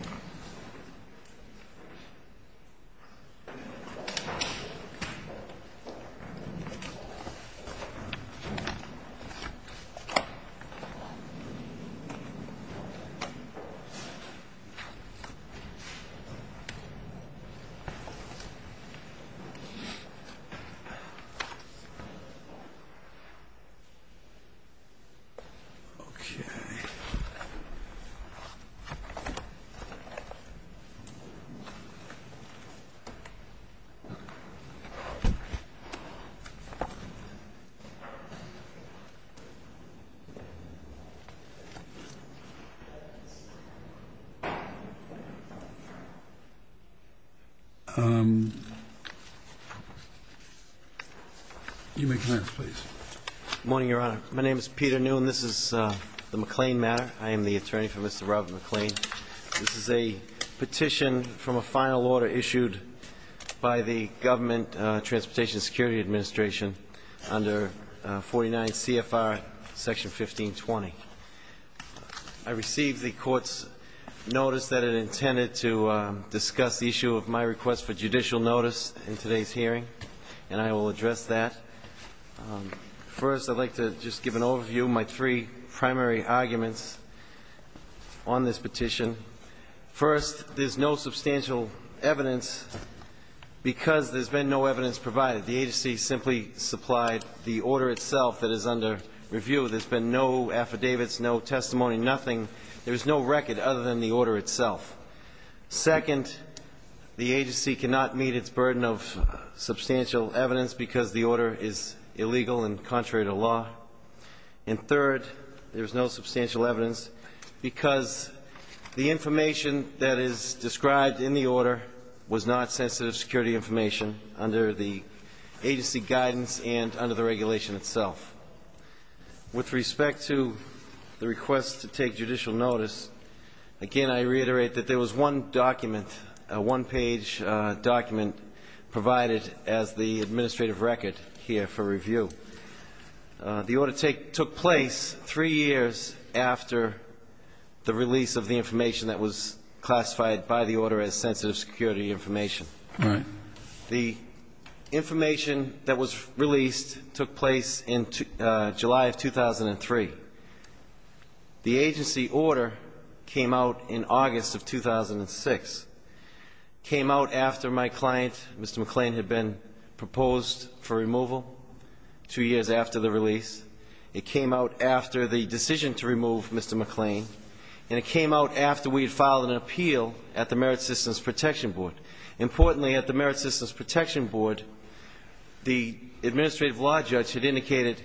Robert McLean, Attorney for Mr. Robert McLean This is a petition from a final order issued by the Government Transportation Security Administration under 49 CFR section 1520. I received the court's notice that it intended to discuss the issue of my request for judicial notice in today's hearing and I will address that. First, I'd like to just give an overview of my three primary arguments on this petition. First, there's no substantial evidence because there's been no evidence provided. The agency simply supplied the order itself that is under review. There's been no affidavits, no testimony, nothing. There's no record other than the order itself. Second, the agency cannot meet its burden of substantial evidence because the order is illegal and contrary to law. And third, there's no substantial evidence because the information that is described in the order was not sensitive security information under the agency guidance and under the regulation itself. With respect to the request to take judicial notice, again, I reiterate that there was one document, a one-page document provided as the administrative record here for review. The order took place three years after the release of the information that was classified by the order as sensitive security information. The information that was released took place in July of 2003. The agency order came out in August of 2006, came out after my client, Mr. McLean, had been proposed for removal two years after the release. It came out after the decision to remove Mr. McLean and it came out after we had filed an appeal at the Merit Systems Protection Board. Importantly, at the Merit Systems Protection Board, the administrative law judge had indicated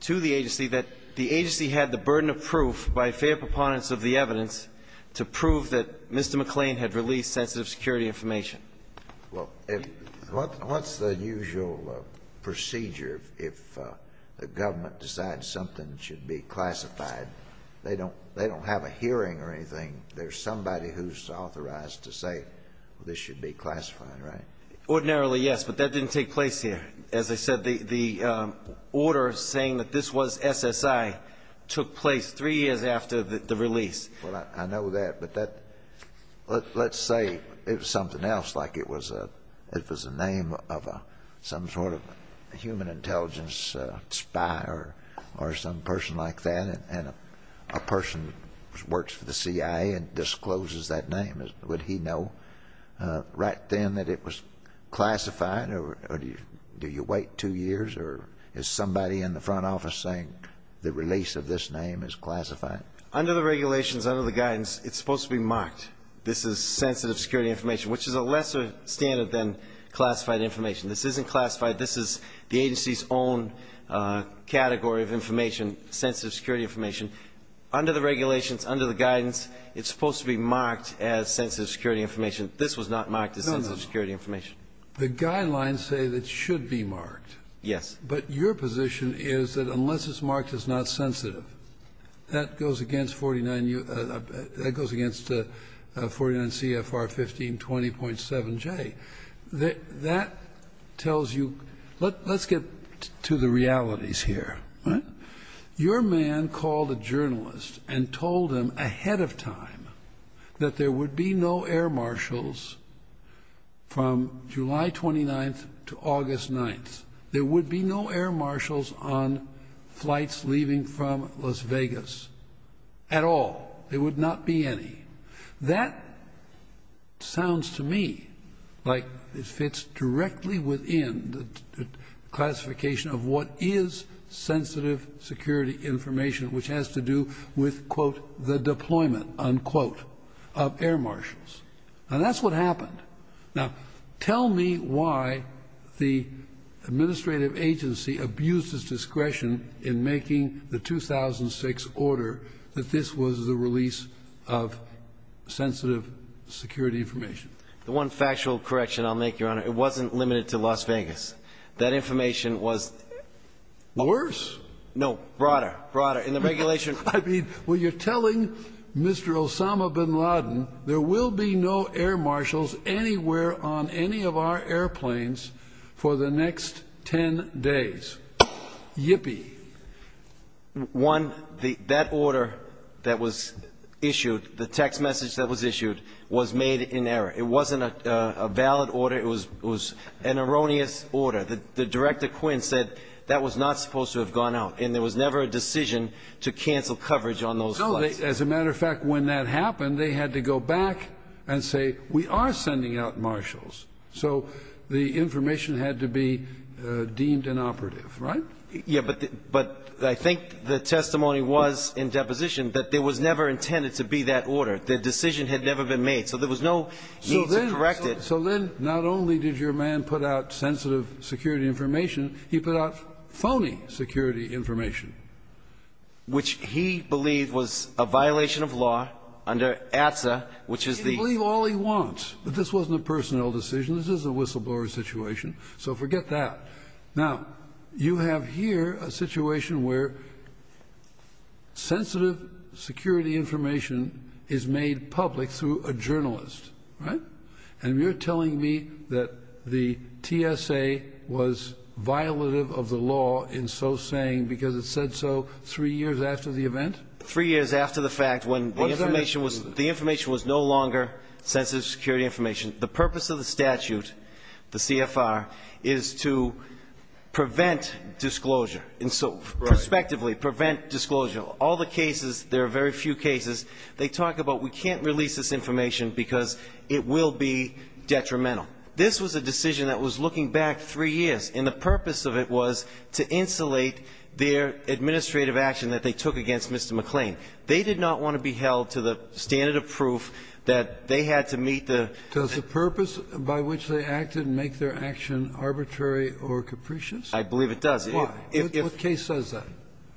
to the agency that the agency had the burden of proof by fair preponderance of the evidence to prove that Mr. McLean had released sensitive security information. Well, what's the usual procedure if the government decides something should be classified? They don't have a hearing or anything. There's somebody who's authorized to say this should be classified, right? Ordinarily, yes. But that didn't take place here. As I said, the order saying that this was SSI took place three years after the release. Well, I know that. But let's say it was something else, like it was a name of some sort of human intelligence spy or some person like that, and a person works for the CIA and discloses that name. Would he know right then that it was classified? Or do you wait two years? Or is somebody in the front office saying the release of this name is classified? Under the regulations, under the guidance, it's supposed to be marked. This is sensitive security information, which is a lesser standard than classified information. This isn't classified. This is the agency's own category of information, sensitive security information. Under the regulations, under the guidance, it's supposed to be marked as sensitive security information. This was not marked as sensitive security information. No, no. The guidelines say it should be marked. Yes. But your position is that unless it's marked as not sensitive, that goes against 49 U.S. That goes against 49 CFR 1520.7J. That tells you. Let's get to the realities here. Your man called a journalist and told him ahead of time that there would be no air marshals from July 29th to August 9th. There would be no air marshals on flights leaving from Las Vegas at all. There would not be any. That sounds to me like it fits directly within the classification of what is sensitive security information, which has to do with, quote, the deployment, unquote, of air marshals. And that's what happened. Now, tell me why the administrative agency abused its discretion in making the 2006 order that this was the release of sensitive security information. The one factual correction I'll make, Your Honor, it wasn't limited to Las Vegas. That information was... Worse? No. Broader. Broader. In the regulation... I mean, well, you're telling Mr. Osama bin Laden there will be no air marshals anywhere on any of our airplanes for the next 10 days. Yippee. One, that order that was issued, the text message that was issued, was made in error. It wasn't a valid order. It was an erroneous order. The Director Quinn said that was not supposed to have gone out, and there was never a decision to cancel coverage on those flights. So, as a matter of fact, when that happened, they had to go back and say, we are sending out marshals. So the information had to be deemed inoperative, right? Yeah, but I think the testimony was in deposition that there was never intended to be that order. The decision had never been made. So there was no need to correct it. So then not only did your man put out sensitive security information, he put out phony security information. Which he believed was a violation of law under ATSA, which is the... He can believe all he wants, but this wasn't a personnel decision. This is a whistleblower situation. So forget that. Now, you have here a situation where sensitive security information is made public through a journalist, right? And you're telling me that the TSA was violative of the law in so saying because it said so three years after the event? Three years after the fact, when the information was no longer sensitive security information, the purpose of the statute, the CFR, is to prevent disclosure. And so, prospectively, prevent disclosure. All the cases, there are very few cases, they talk about, we can't release this information because it will be detrimental. This was a decision that was looking back three years, and the purpose of it was to insulate their administrative action that they took against Mr. McClain. They did not want to be held to the standard of proof that they had to meet the... Does the purpose by which they acted make their action arbitrary or capricious? I believe it does. Why? What case says that?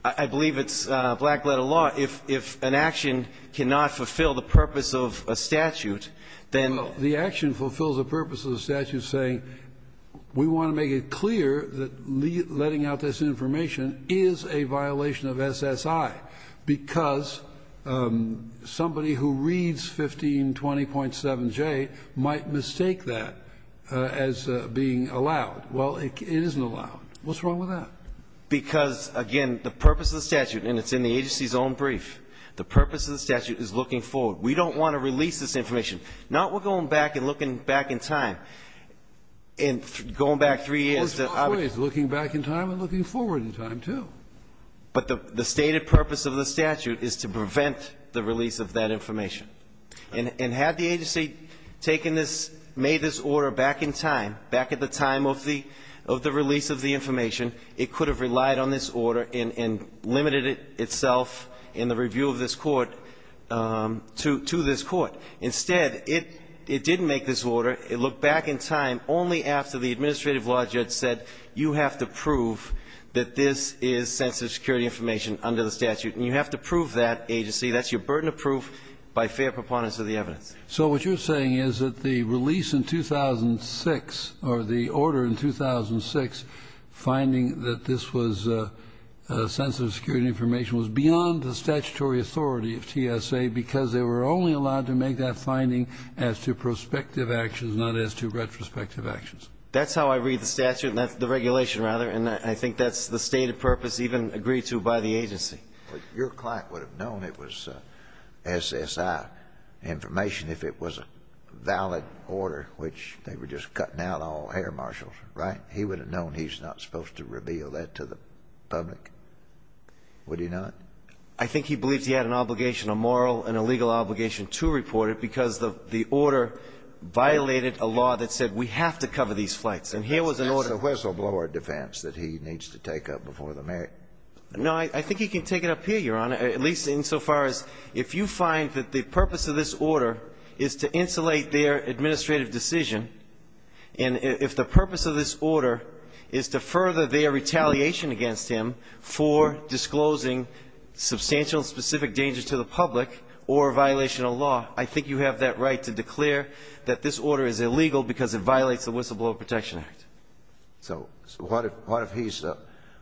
I believe it's black-letter law. If an action cannot fulfill the purpose of a statute, then... Well, the action fulfills the purpose of the statute saying we want to make it clear that letting out this information is a violation of SSI, because somebody who reads 1520.7J might mistake that as being allowed. Well, it isn't allowed. What's wrong with that? Because, again, the purpose of the statute, and it's in the agency's own brief, the purpose of the statute is looking forward. We don't want to release this information. Not we're going back and looking back in time, and going back three years... Of course, always looking back in time and looking forward in time, too. But the stated purpose of the statute is to prevent the release of that information. And had the agency taken this, made this order back in time, back at the time of the release of the information, it could have relied on this order and limited itself in the view of this Court to this Court. Instead, it didn't make this order. It looked back in time only after the administrative law judge said you have to prove that this is sensitive security information under the statute. And you have to prove that agency. That's your burden of proof by fair preponderance of the evidence. So what you're saying is that the release in 2006, or the order in 2006, finding that this was sensitive security information was beyond the statutory authority of TSA because they were only allowed to make that finding as to prospective actions, not as to retrospective actions. That's how I read the statute, the regulation, rather, and I think that's the stated purpose even agreed to by the agency. But your client would have known it was SSI information if it was a valid order, which they were just cutting out all hair marshals, right? He would have known he's not supposed to reveal that to the public, would he not? I think he believes he had an obligation, a moral and a legal obligation, to report it because the order violated a law that said we have to cover these flights. And here was an order. That's a whistleblower defense that he needs to take up before the mayor. No. I think he can take it up here, Your Honor, at least insofar as if you find that the purpose of this order is to insulate their administrative decision, and if the purpose of this order is to further their retaliation against him for disclosing substantial and specific dangers to the public or a violation of law, I think you have that right to declare that this order is illegal because it violates the Whistleblower Protection Act. So what if he's a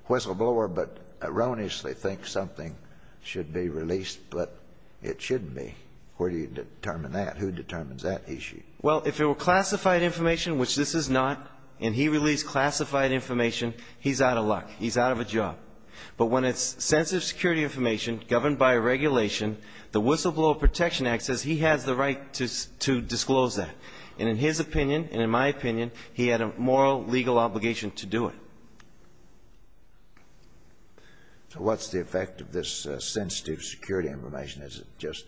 whistleblower but erroneously thinks something should be released but it shouldn't be? Where do you determine that? Who determines that issue? Well, if it were classified information, which this is not, and he released classified information, he's out of luck. He's out of a job. But when it's sensitive security information governed by regulation, the Whistleblower Protection Act says he has the right to disclose that. And in his opinion and in my opinion, he had a moral, legal obligation to do it. So what's the effect of this sensitive security information? It just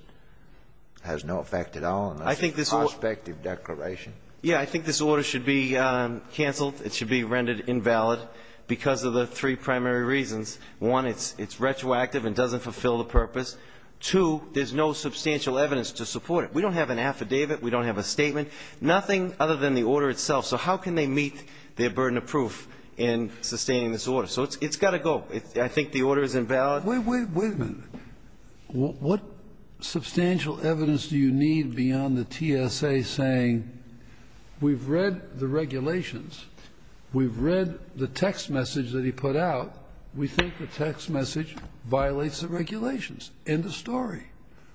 has no effect at all unless it's a prospective declaration. Yeah. I think this order should be canceled. It should be rendered invalid because of the three primary reasons. One, it's retroactive and doesn't fulfill the purpose. Two, there's no substantial evidence to support it. We don't have an affidavit. We don't have a statement. Nothing other than the order itself. So how can they meet their burden of proof in sustaining this order? So it's got to go. I think the order is invalid. Wait a minute. What substantial evidence do you need beyond the TSA saying we've read the regulations, we've read the text message that he put out. We think the text message violates the regulations. End of story.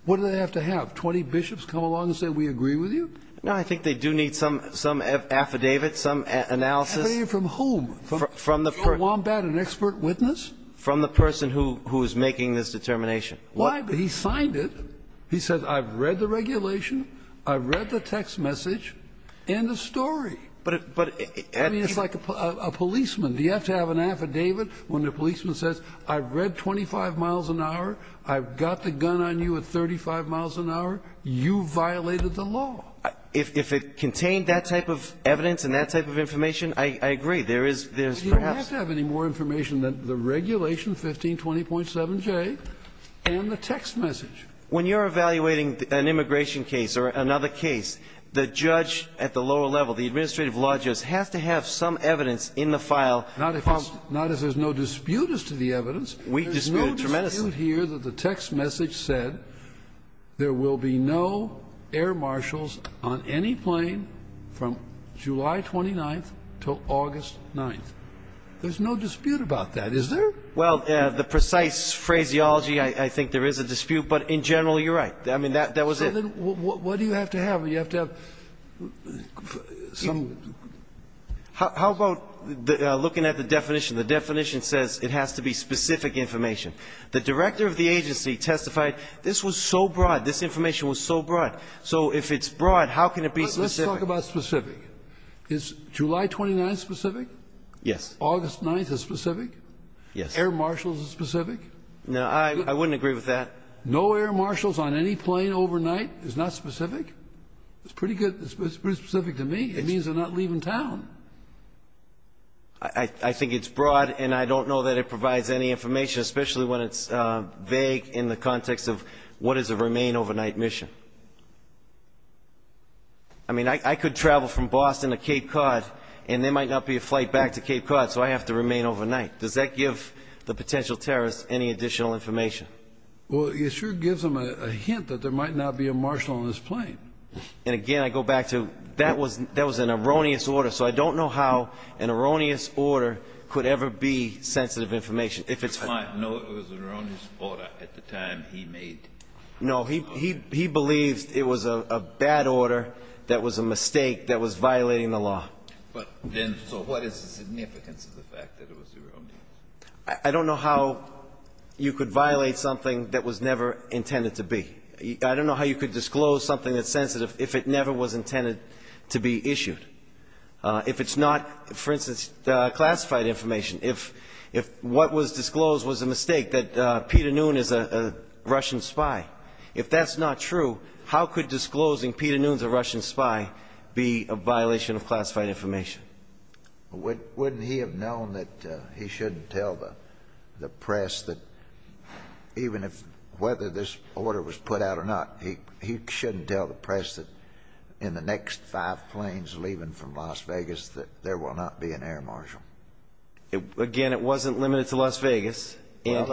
What do they have to have, 20 bishops come along and say we agree with you? No, I think they do need some affidavit, some analysis. Affidavit from whom? From the person. From Wombat, an expert witness? From the person who is making this determination. Why? He signed it. He said I've read the regulation, I've read the text message. End of story. But it's like a policeman. Do you have to have an affidavit when the policeman says I've read 25 miles an hour, I've got the gun on you at 35 miles an hour? You violated the law. If it contained that type of evidence and that type of information, I agree. There is perhaps You don't have to have any more information than the regulation 1520.7J and the text message. When you're evaluating an immigration case or another case, the judge at the lower level, the administrative law judge, has to have some evidence in the file. Not if there's no dispute as to the evidence. We dispute it tremendously. There's no dispute here that the text message said there will be no air marshals on any plane from July 29th until August 9th. There's no dispute about that, is there? Well, the precise phraseology, I think there is a dispute. But in general, you're right. I mean, that was it. So then what do you have to have? Do you have to have some How about looking at the definition? The definition says it has to be specific information. The director of the agency testified this was so broad. This information was so broad. So if it's broad, how can it be specific? Let's talk about specific. Is July 29th specific? Yes. August 9th is specific? Yes. Air marshals are specific? No, I wouldn't agree with that. No air marshals on any plane overnight is not specific? It's pretty good. It's pretty specific to me. It means they're not leaving town. I think it's broad, and I don't know that it provides any information, especially when it's vague in the context of what is a remain overnight mission. I mean, I could travel from Boston to Cape Cod, and there might not be a flight back to Cape Cod, so I have to remain overnight. Does that give the potential terrorists any additional information? Well, it sure gives them a hint that there might not be a marshal on this plane. And, again, I go back to that was an erroneous order, so I don't know how an erroneous order could ever be sensitive information. No, it was an erroneous order at the time he made it. No, he believes it was a bad order that was a mistake that was violating the law. So what is the significance of the fact that it was erroneous? I don't know how you could violate something that was never intended to be. I don't know how you could disclose something that's sensitive if it never was intended to be issued. If it's not, for instance, classified information, if what was disclosed was a mistake, that Peter Noone is a Russian spy, if that's not true, how could disclosing Peter Noone's a Russian spy be a violation of classified information? Wouldn't he have known that he shouldn't tell the press that, even if whether this order was put out or not, he shouldn't tell the press that in the next five planes leaving from Las Vegas that there will not be an air marshal? Again, it wasn't limited to Las Vegas. Well,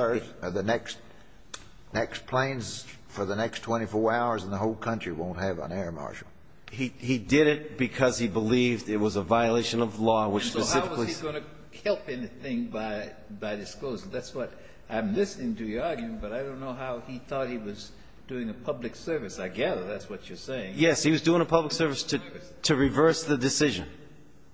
the next planes for the next 24 hours in the whole country won't have an air marshal. He did it because he believed it was a violation of law, which specifically So how was he going to help anything by disclosing? That's what I'm listening to you arguing, but I don't know how he thought he was doing a public service. I gather that's what you're saying. Yes, he was doing a public service to reverse the decision.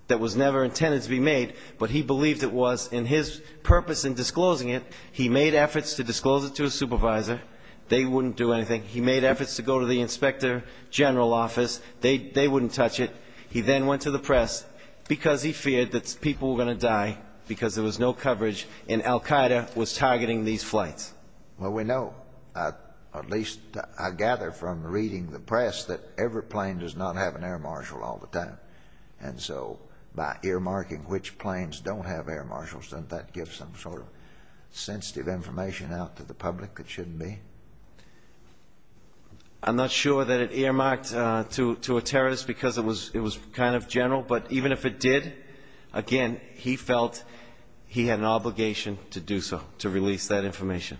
That was never intended to be made, but he believed it was. And his purpose in disclosing it, he made efforts to disclose it to his supervisor. They wouldn't do anything. He made efforts to go to the inspector general office. They wouldn't touch it. He then went to the press because he feared that people were going to die because there was no coverage and Al Qaeda was targeting these flights. Well, we know, at least I gather from reading the press, that every plane does not have an air marshal all the time. And so by earmarking which planes don't have air marshals, doesn't that give some sort of sensitive information out to the public that shouldn't be? I'm not sure that it earmarked to a terrorist because it was kind of general, but even if it did, again, he felt he had an obligation to do so, to release that information.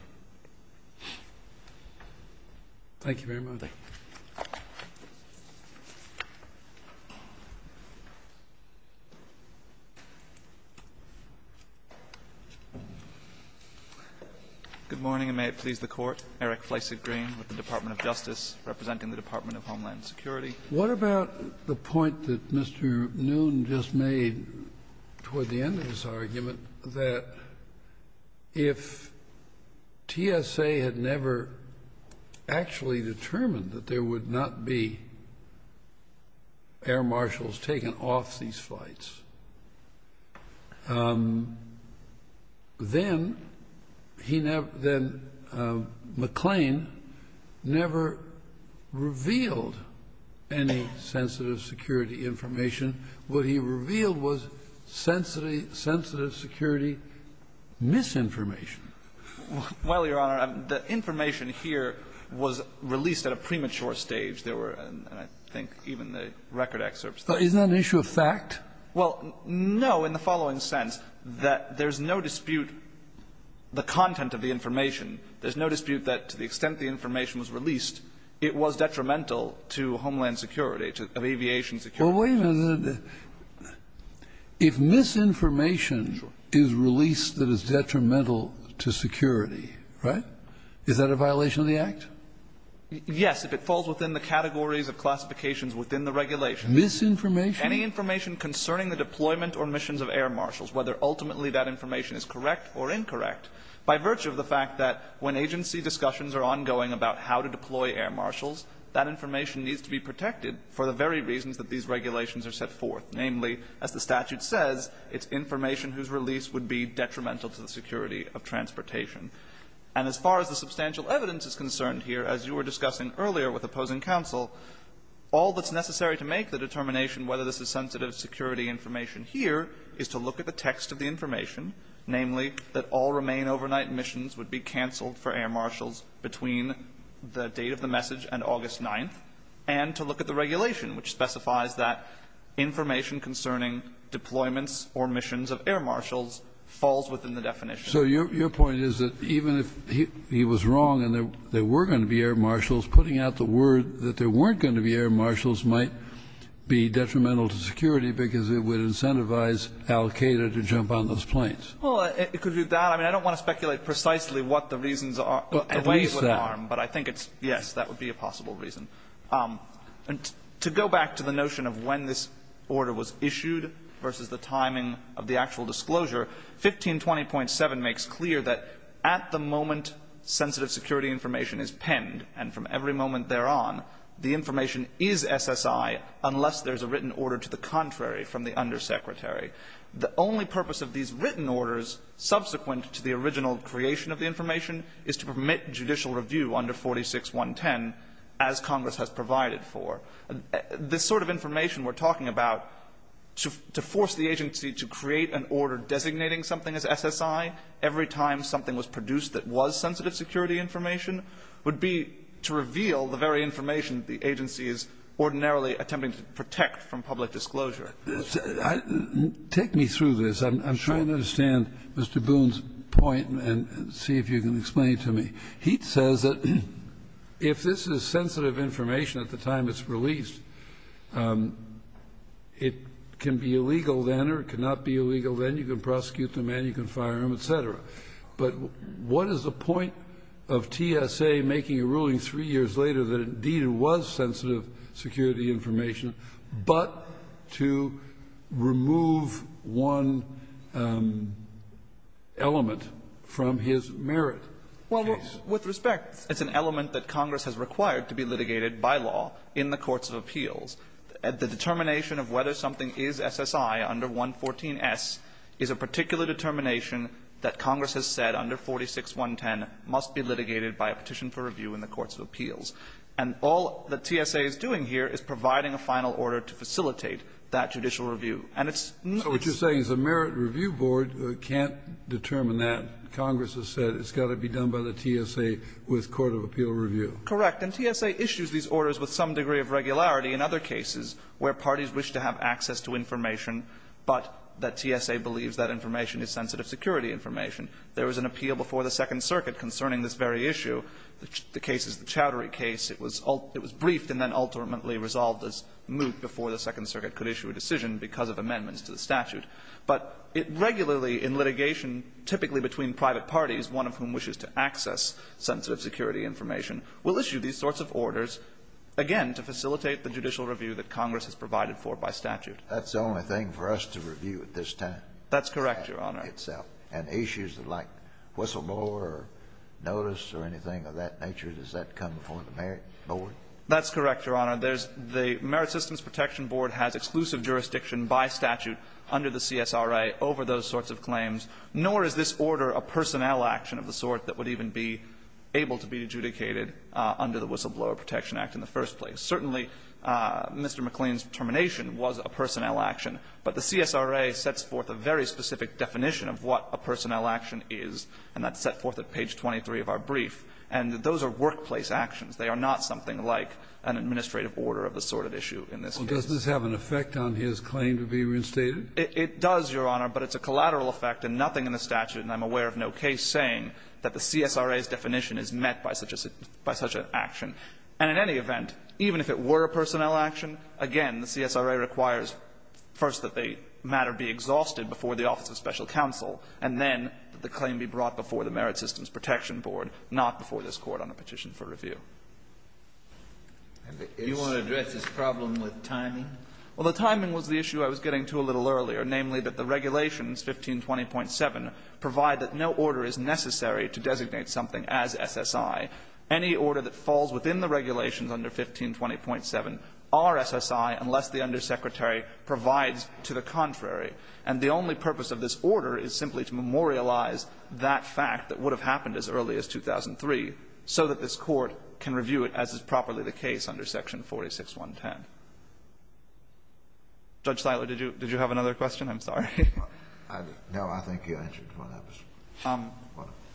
Thank you. Thank you very much. Good morning, and may it please the Court. Eric Fleishig, Green, with the Department of Justice, representing the Department of Homeland Security. What about the point that Mr. Noon just made toward the end of his argument, that if TSA had never actually determined that there would not be air marshals taken off these flights, then McLean never revealed any sensitive security information. What he revealed was sensitive security misinformation. Well, Your Honor, the information here was released at a premature stage. There were, I think, even the record excerpts. Isn't that an issue of fact? Well, no, in the following sense, that there's no dispute the content of the information. There's no dispute that to the extent the information was released, it was detrimental to Homeland Security, to aviation security. Well, wait a minute. If misinformation is released that is detrimental to security, right, is that a violation of the Act? Yes, if it falls within the categories of classifications within the regulations. Misinformation? Any information concerning the deployment or missions of air marshals, whether ultimately that information is correct or incorrect, by virtue of the fact that when information needs to be protected for the very reasons that these regulations are set forth, namely, as the statute says, it's information whose release would be detrimental to the security of transportation. And as far as the substantial evidence is concerned here, as you were discussing earlier with opposing counsel, all that's necessary to make the determination whether this is sensitive security information here is to look at the text of the information, namely, that all remain overnight missions would be canceled for air marshals between the date of the message and August 9th, and to look at the regulation, which specifies that information concerning deployments or missions of air marshals falls within the definition. So your point is that even if he was wrong and there were going to be air marshals, putting out the word that there weren't going to be air marshals might be detrimental to security because it would incentivize Al-Qaeda to jump on those planes. Well, it could do that. I mean, I don't want to speculate precisely what the reasons are, but I think it's yes, that would be a possible reason. To go back to the notion of when this order was issued versus the timing of the actual disclosure, 1520.7 makes clear that at the moment sensitive security information is penned and from every moment thereon, the information is SSI unless there is a written order to the contrary from the undersecretary. The only purpose of these written orders subsequent to the original creation of the information is to permit judicial review under 46.110 as Congress has provided for. This sort of information we're talking about, to force the agency to create an order designating something as SSI every time something was produced that was sensitive security information would be to reveal the very information the agency is ordinarily attempting to protect from public disclosure. Take me through this. I'm trying to understand Mr. Boone's point and see if you can explain it to me. He says that if this is sensitive information at the time it's released, it can be illegal then or it cannot be illegal then. You can prosecute the man, you can fire him, et cetera. But what is the point of TSA making a ruling three years later that indeed it was sensitive security information, but to remove one element from his merit case? Well, with respect, it's an element that Congress has required to be litigated by law in the courts of appeals. The determination of whether something is SSI under 114S is a particular determination that Congress has said under 46.110 must be litigated by a petition for review in the courts of appeals. And all that TSA is doing here is providing a final order to facilitate that judicial review. And it's not just the merits review board can't determine that. Congress has said it's got to be done by the TSA with court of appeal review. Correct. And TSA issues these orders with some degree of regularity in other cases where parties wish to have access to information, but that TSA believes that information is sensitive security information. There was an appeal before the Second Circuit concerning this very issue, the cases of the Chowdhury case. It was briefed and then ultimately resolved as moot before the Second Circuit could issue a decision because of amendments to the statute. But it regularly in litigation, typically between private parties, one of whom wishes to access sensitive security information, will issue these sorts of orders, again, to facilitate the judicial review that Congress has provided for by statute. That's the only thing for us to review at this time? That's correct, Your Honor. And issues like whistleblower or notice or anything of that nature, does that come before the Merit Board? That's correct, Your Honor. There's the Merit Systems Protection Board has exclusive jurisdiction by statute under the CSRA over those sorts of claims, nor is this order a personnel action of the sort that would even be able to be adjudicated under the Whistleblower Protection Act in the first place. Certainly, Mr. McLean's determination was a personnel action, but the CSRA sets forth a very specific definition of what a personnel action is, and that's set forth at page 23 of our brief. And those are workplace actions. They are not something like an administrative order of the sort of issue in this case. Kennedy, does this have an effect on his claim to be reinstated? It does, Your Honor, but it's a collateral effect and nothing in the statute, and I'm aware of no case, saying that the CSRA's definition is met by such an action. And in any event, even if it were a personnel action, again, the CSRA requires first that the matter be exhausted before the Office of Special Counsel, and then that the claim be brought before the Merit Systems Protection Board, not before this Court on a petition for review. Do you want to address this problem with timing? Well, the timing was the issue I was getting to a little earlier, namely, that the regulations, 1520.7, provide that no order is necessary to designate something as SSI. Any order that falls within the regulations under 1520.7 are SSI unless the undersecretary provides to the contrary. And the only purpose of this order is simply to memorialize that fact that would have happened as early as 2003 so that this Court can review it as is properly the case under section 46110. Judge Siler, did you have another question? I'm sorry. No, I think you answered what I was trying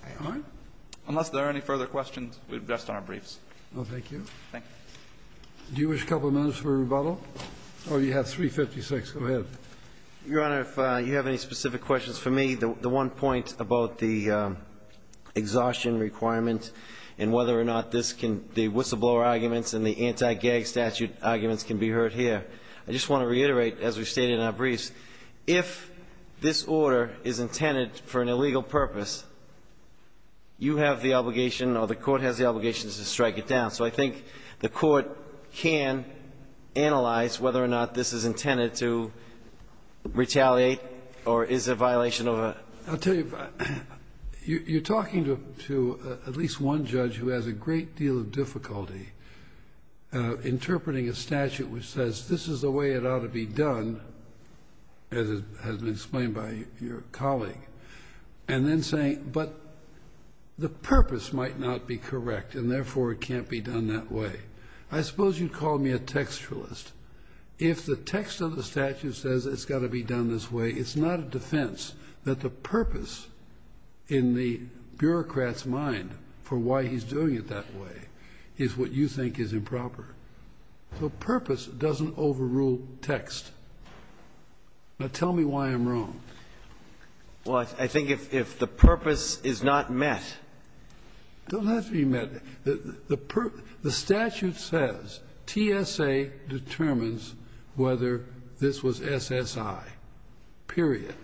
to say. Unless there are any further questions, we've addressed our briefs. Thank you. Do you wish a couple of minutes for rebuttal, or do you have 356? Go ahead. Your Honor, if you have any specific questions for me, the one point about the exhaustion requirement and whether or not this can be whistleblower arguments and the anti-gag statute arguments can be heard here, I just want to reiterate, as we stated in our briefs, if this order is intended for an illegal purpose, you have the obligation or the Court has the obligation to strike it down. So I think the Court can analyze whether or not this is intended to retaliate or is a violation of a ---- I'll tell you, you're talking to at least one judge who has a great deal of difficulty interpreting a statute which says this is the way it ought to be done, as has been explained by your colleague, and then saying, but the purpose might not be correct and, therefore, it can't be done that way. I suppose you'd call me a textualist. If the text of the statute says it's got to be done this way, it's not a defense that the purpose in the bureaucrat's mind for why he's doing it that way is what you think is improper. The purpose doesn't overrule text. Now, tell me why I'm wrong. Well, I think if the purpose is not met ---- It doesn't have to be met. The statute says TSA determines whether this was SSI, period.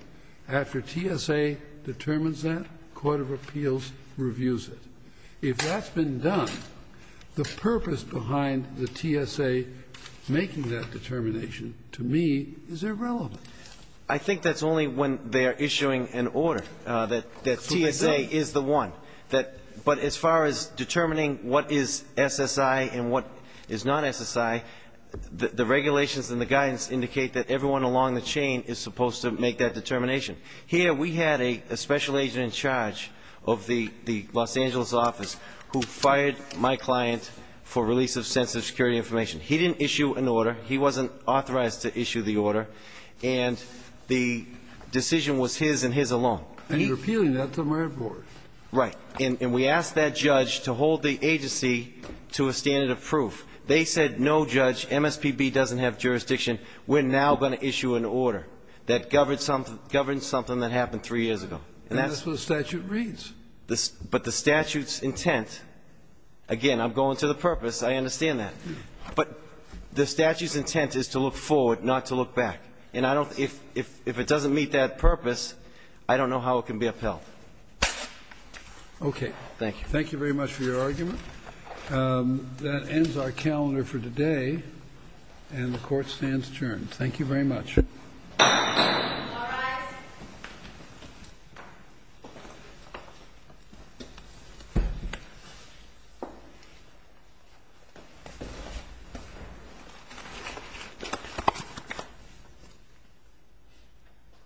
After TSA determines that, court of appeals reviews it. If that's been done, the purpose behind the TSA making that determination to me is irrelevant. I think that's only when they're issuing an order, that TSA is the one. But as far as determining what is SSI and what is not SSI, the regulations and the guidance indicate that everyone along the chain is supposed to make that determination. Here, we had a special agent in charge of the Los Angeles office who fired my client for release of sensitive security information. He didn't issue an order. He wasn't authorized to issue the order, and the decision was his and his alone. And you're appealing that to my board. Right. And we asked that judge to hold the agency to a standard of proof. They said, no, Judge, MSPB doesn't have jurisdiction. We're now going to issue an order that governs something that happened three years ago. And that's what the statute reads. But the statute's intent, again, I'm going to the purpose. I understand that. But the statute's intent is to look forward, not to look back. And if it doesn't meet that purpose, I don't know how it can be upheld. OK. Thank you. Thank you very much for your argument. That ends our calendar for today, and the court stands adjourned. Thank you very much.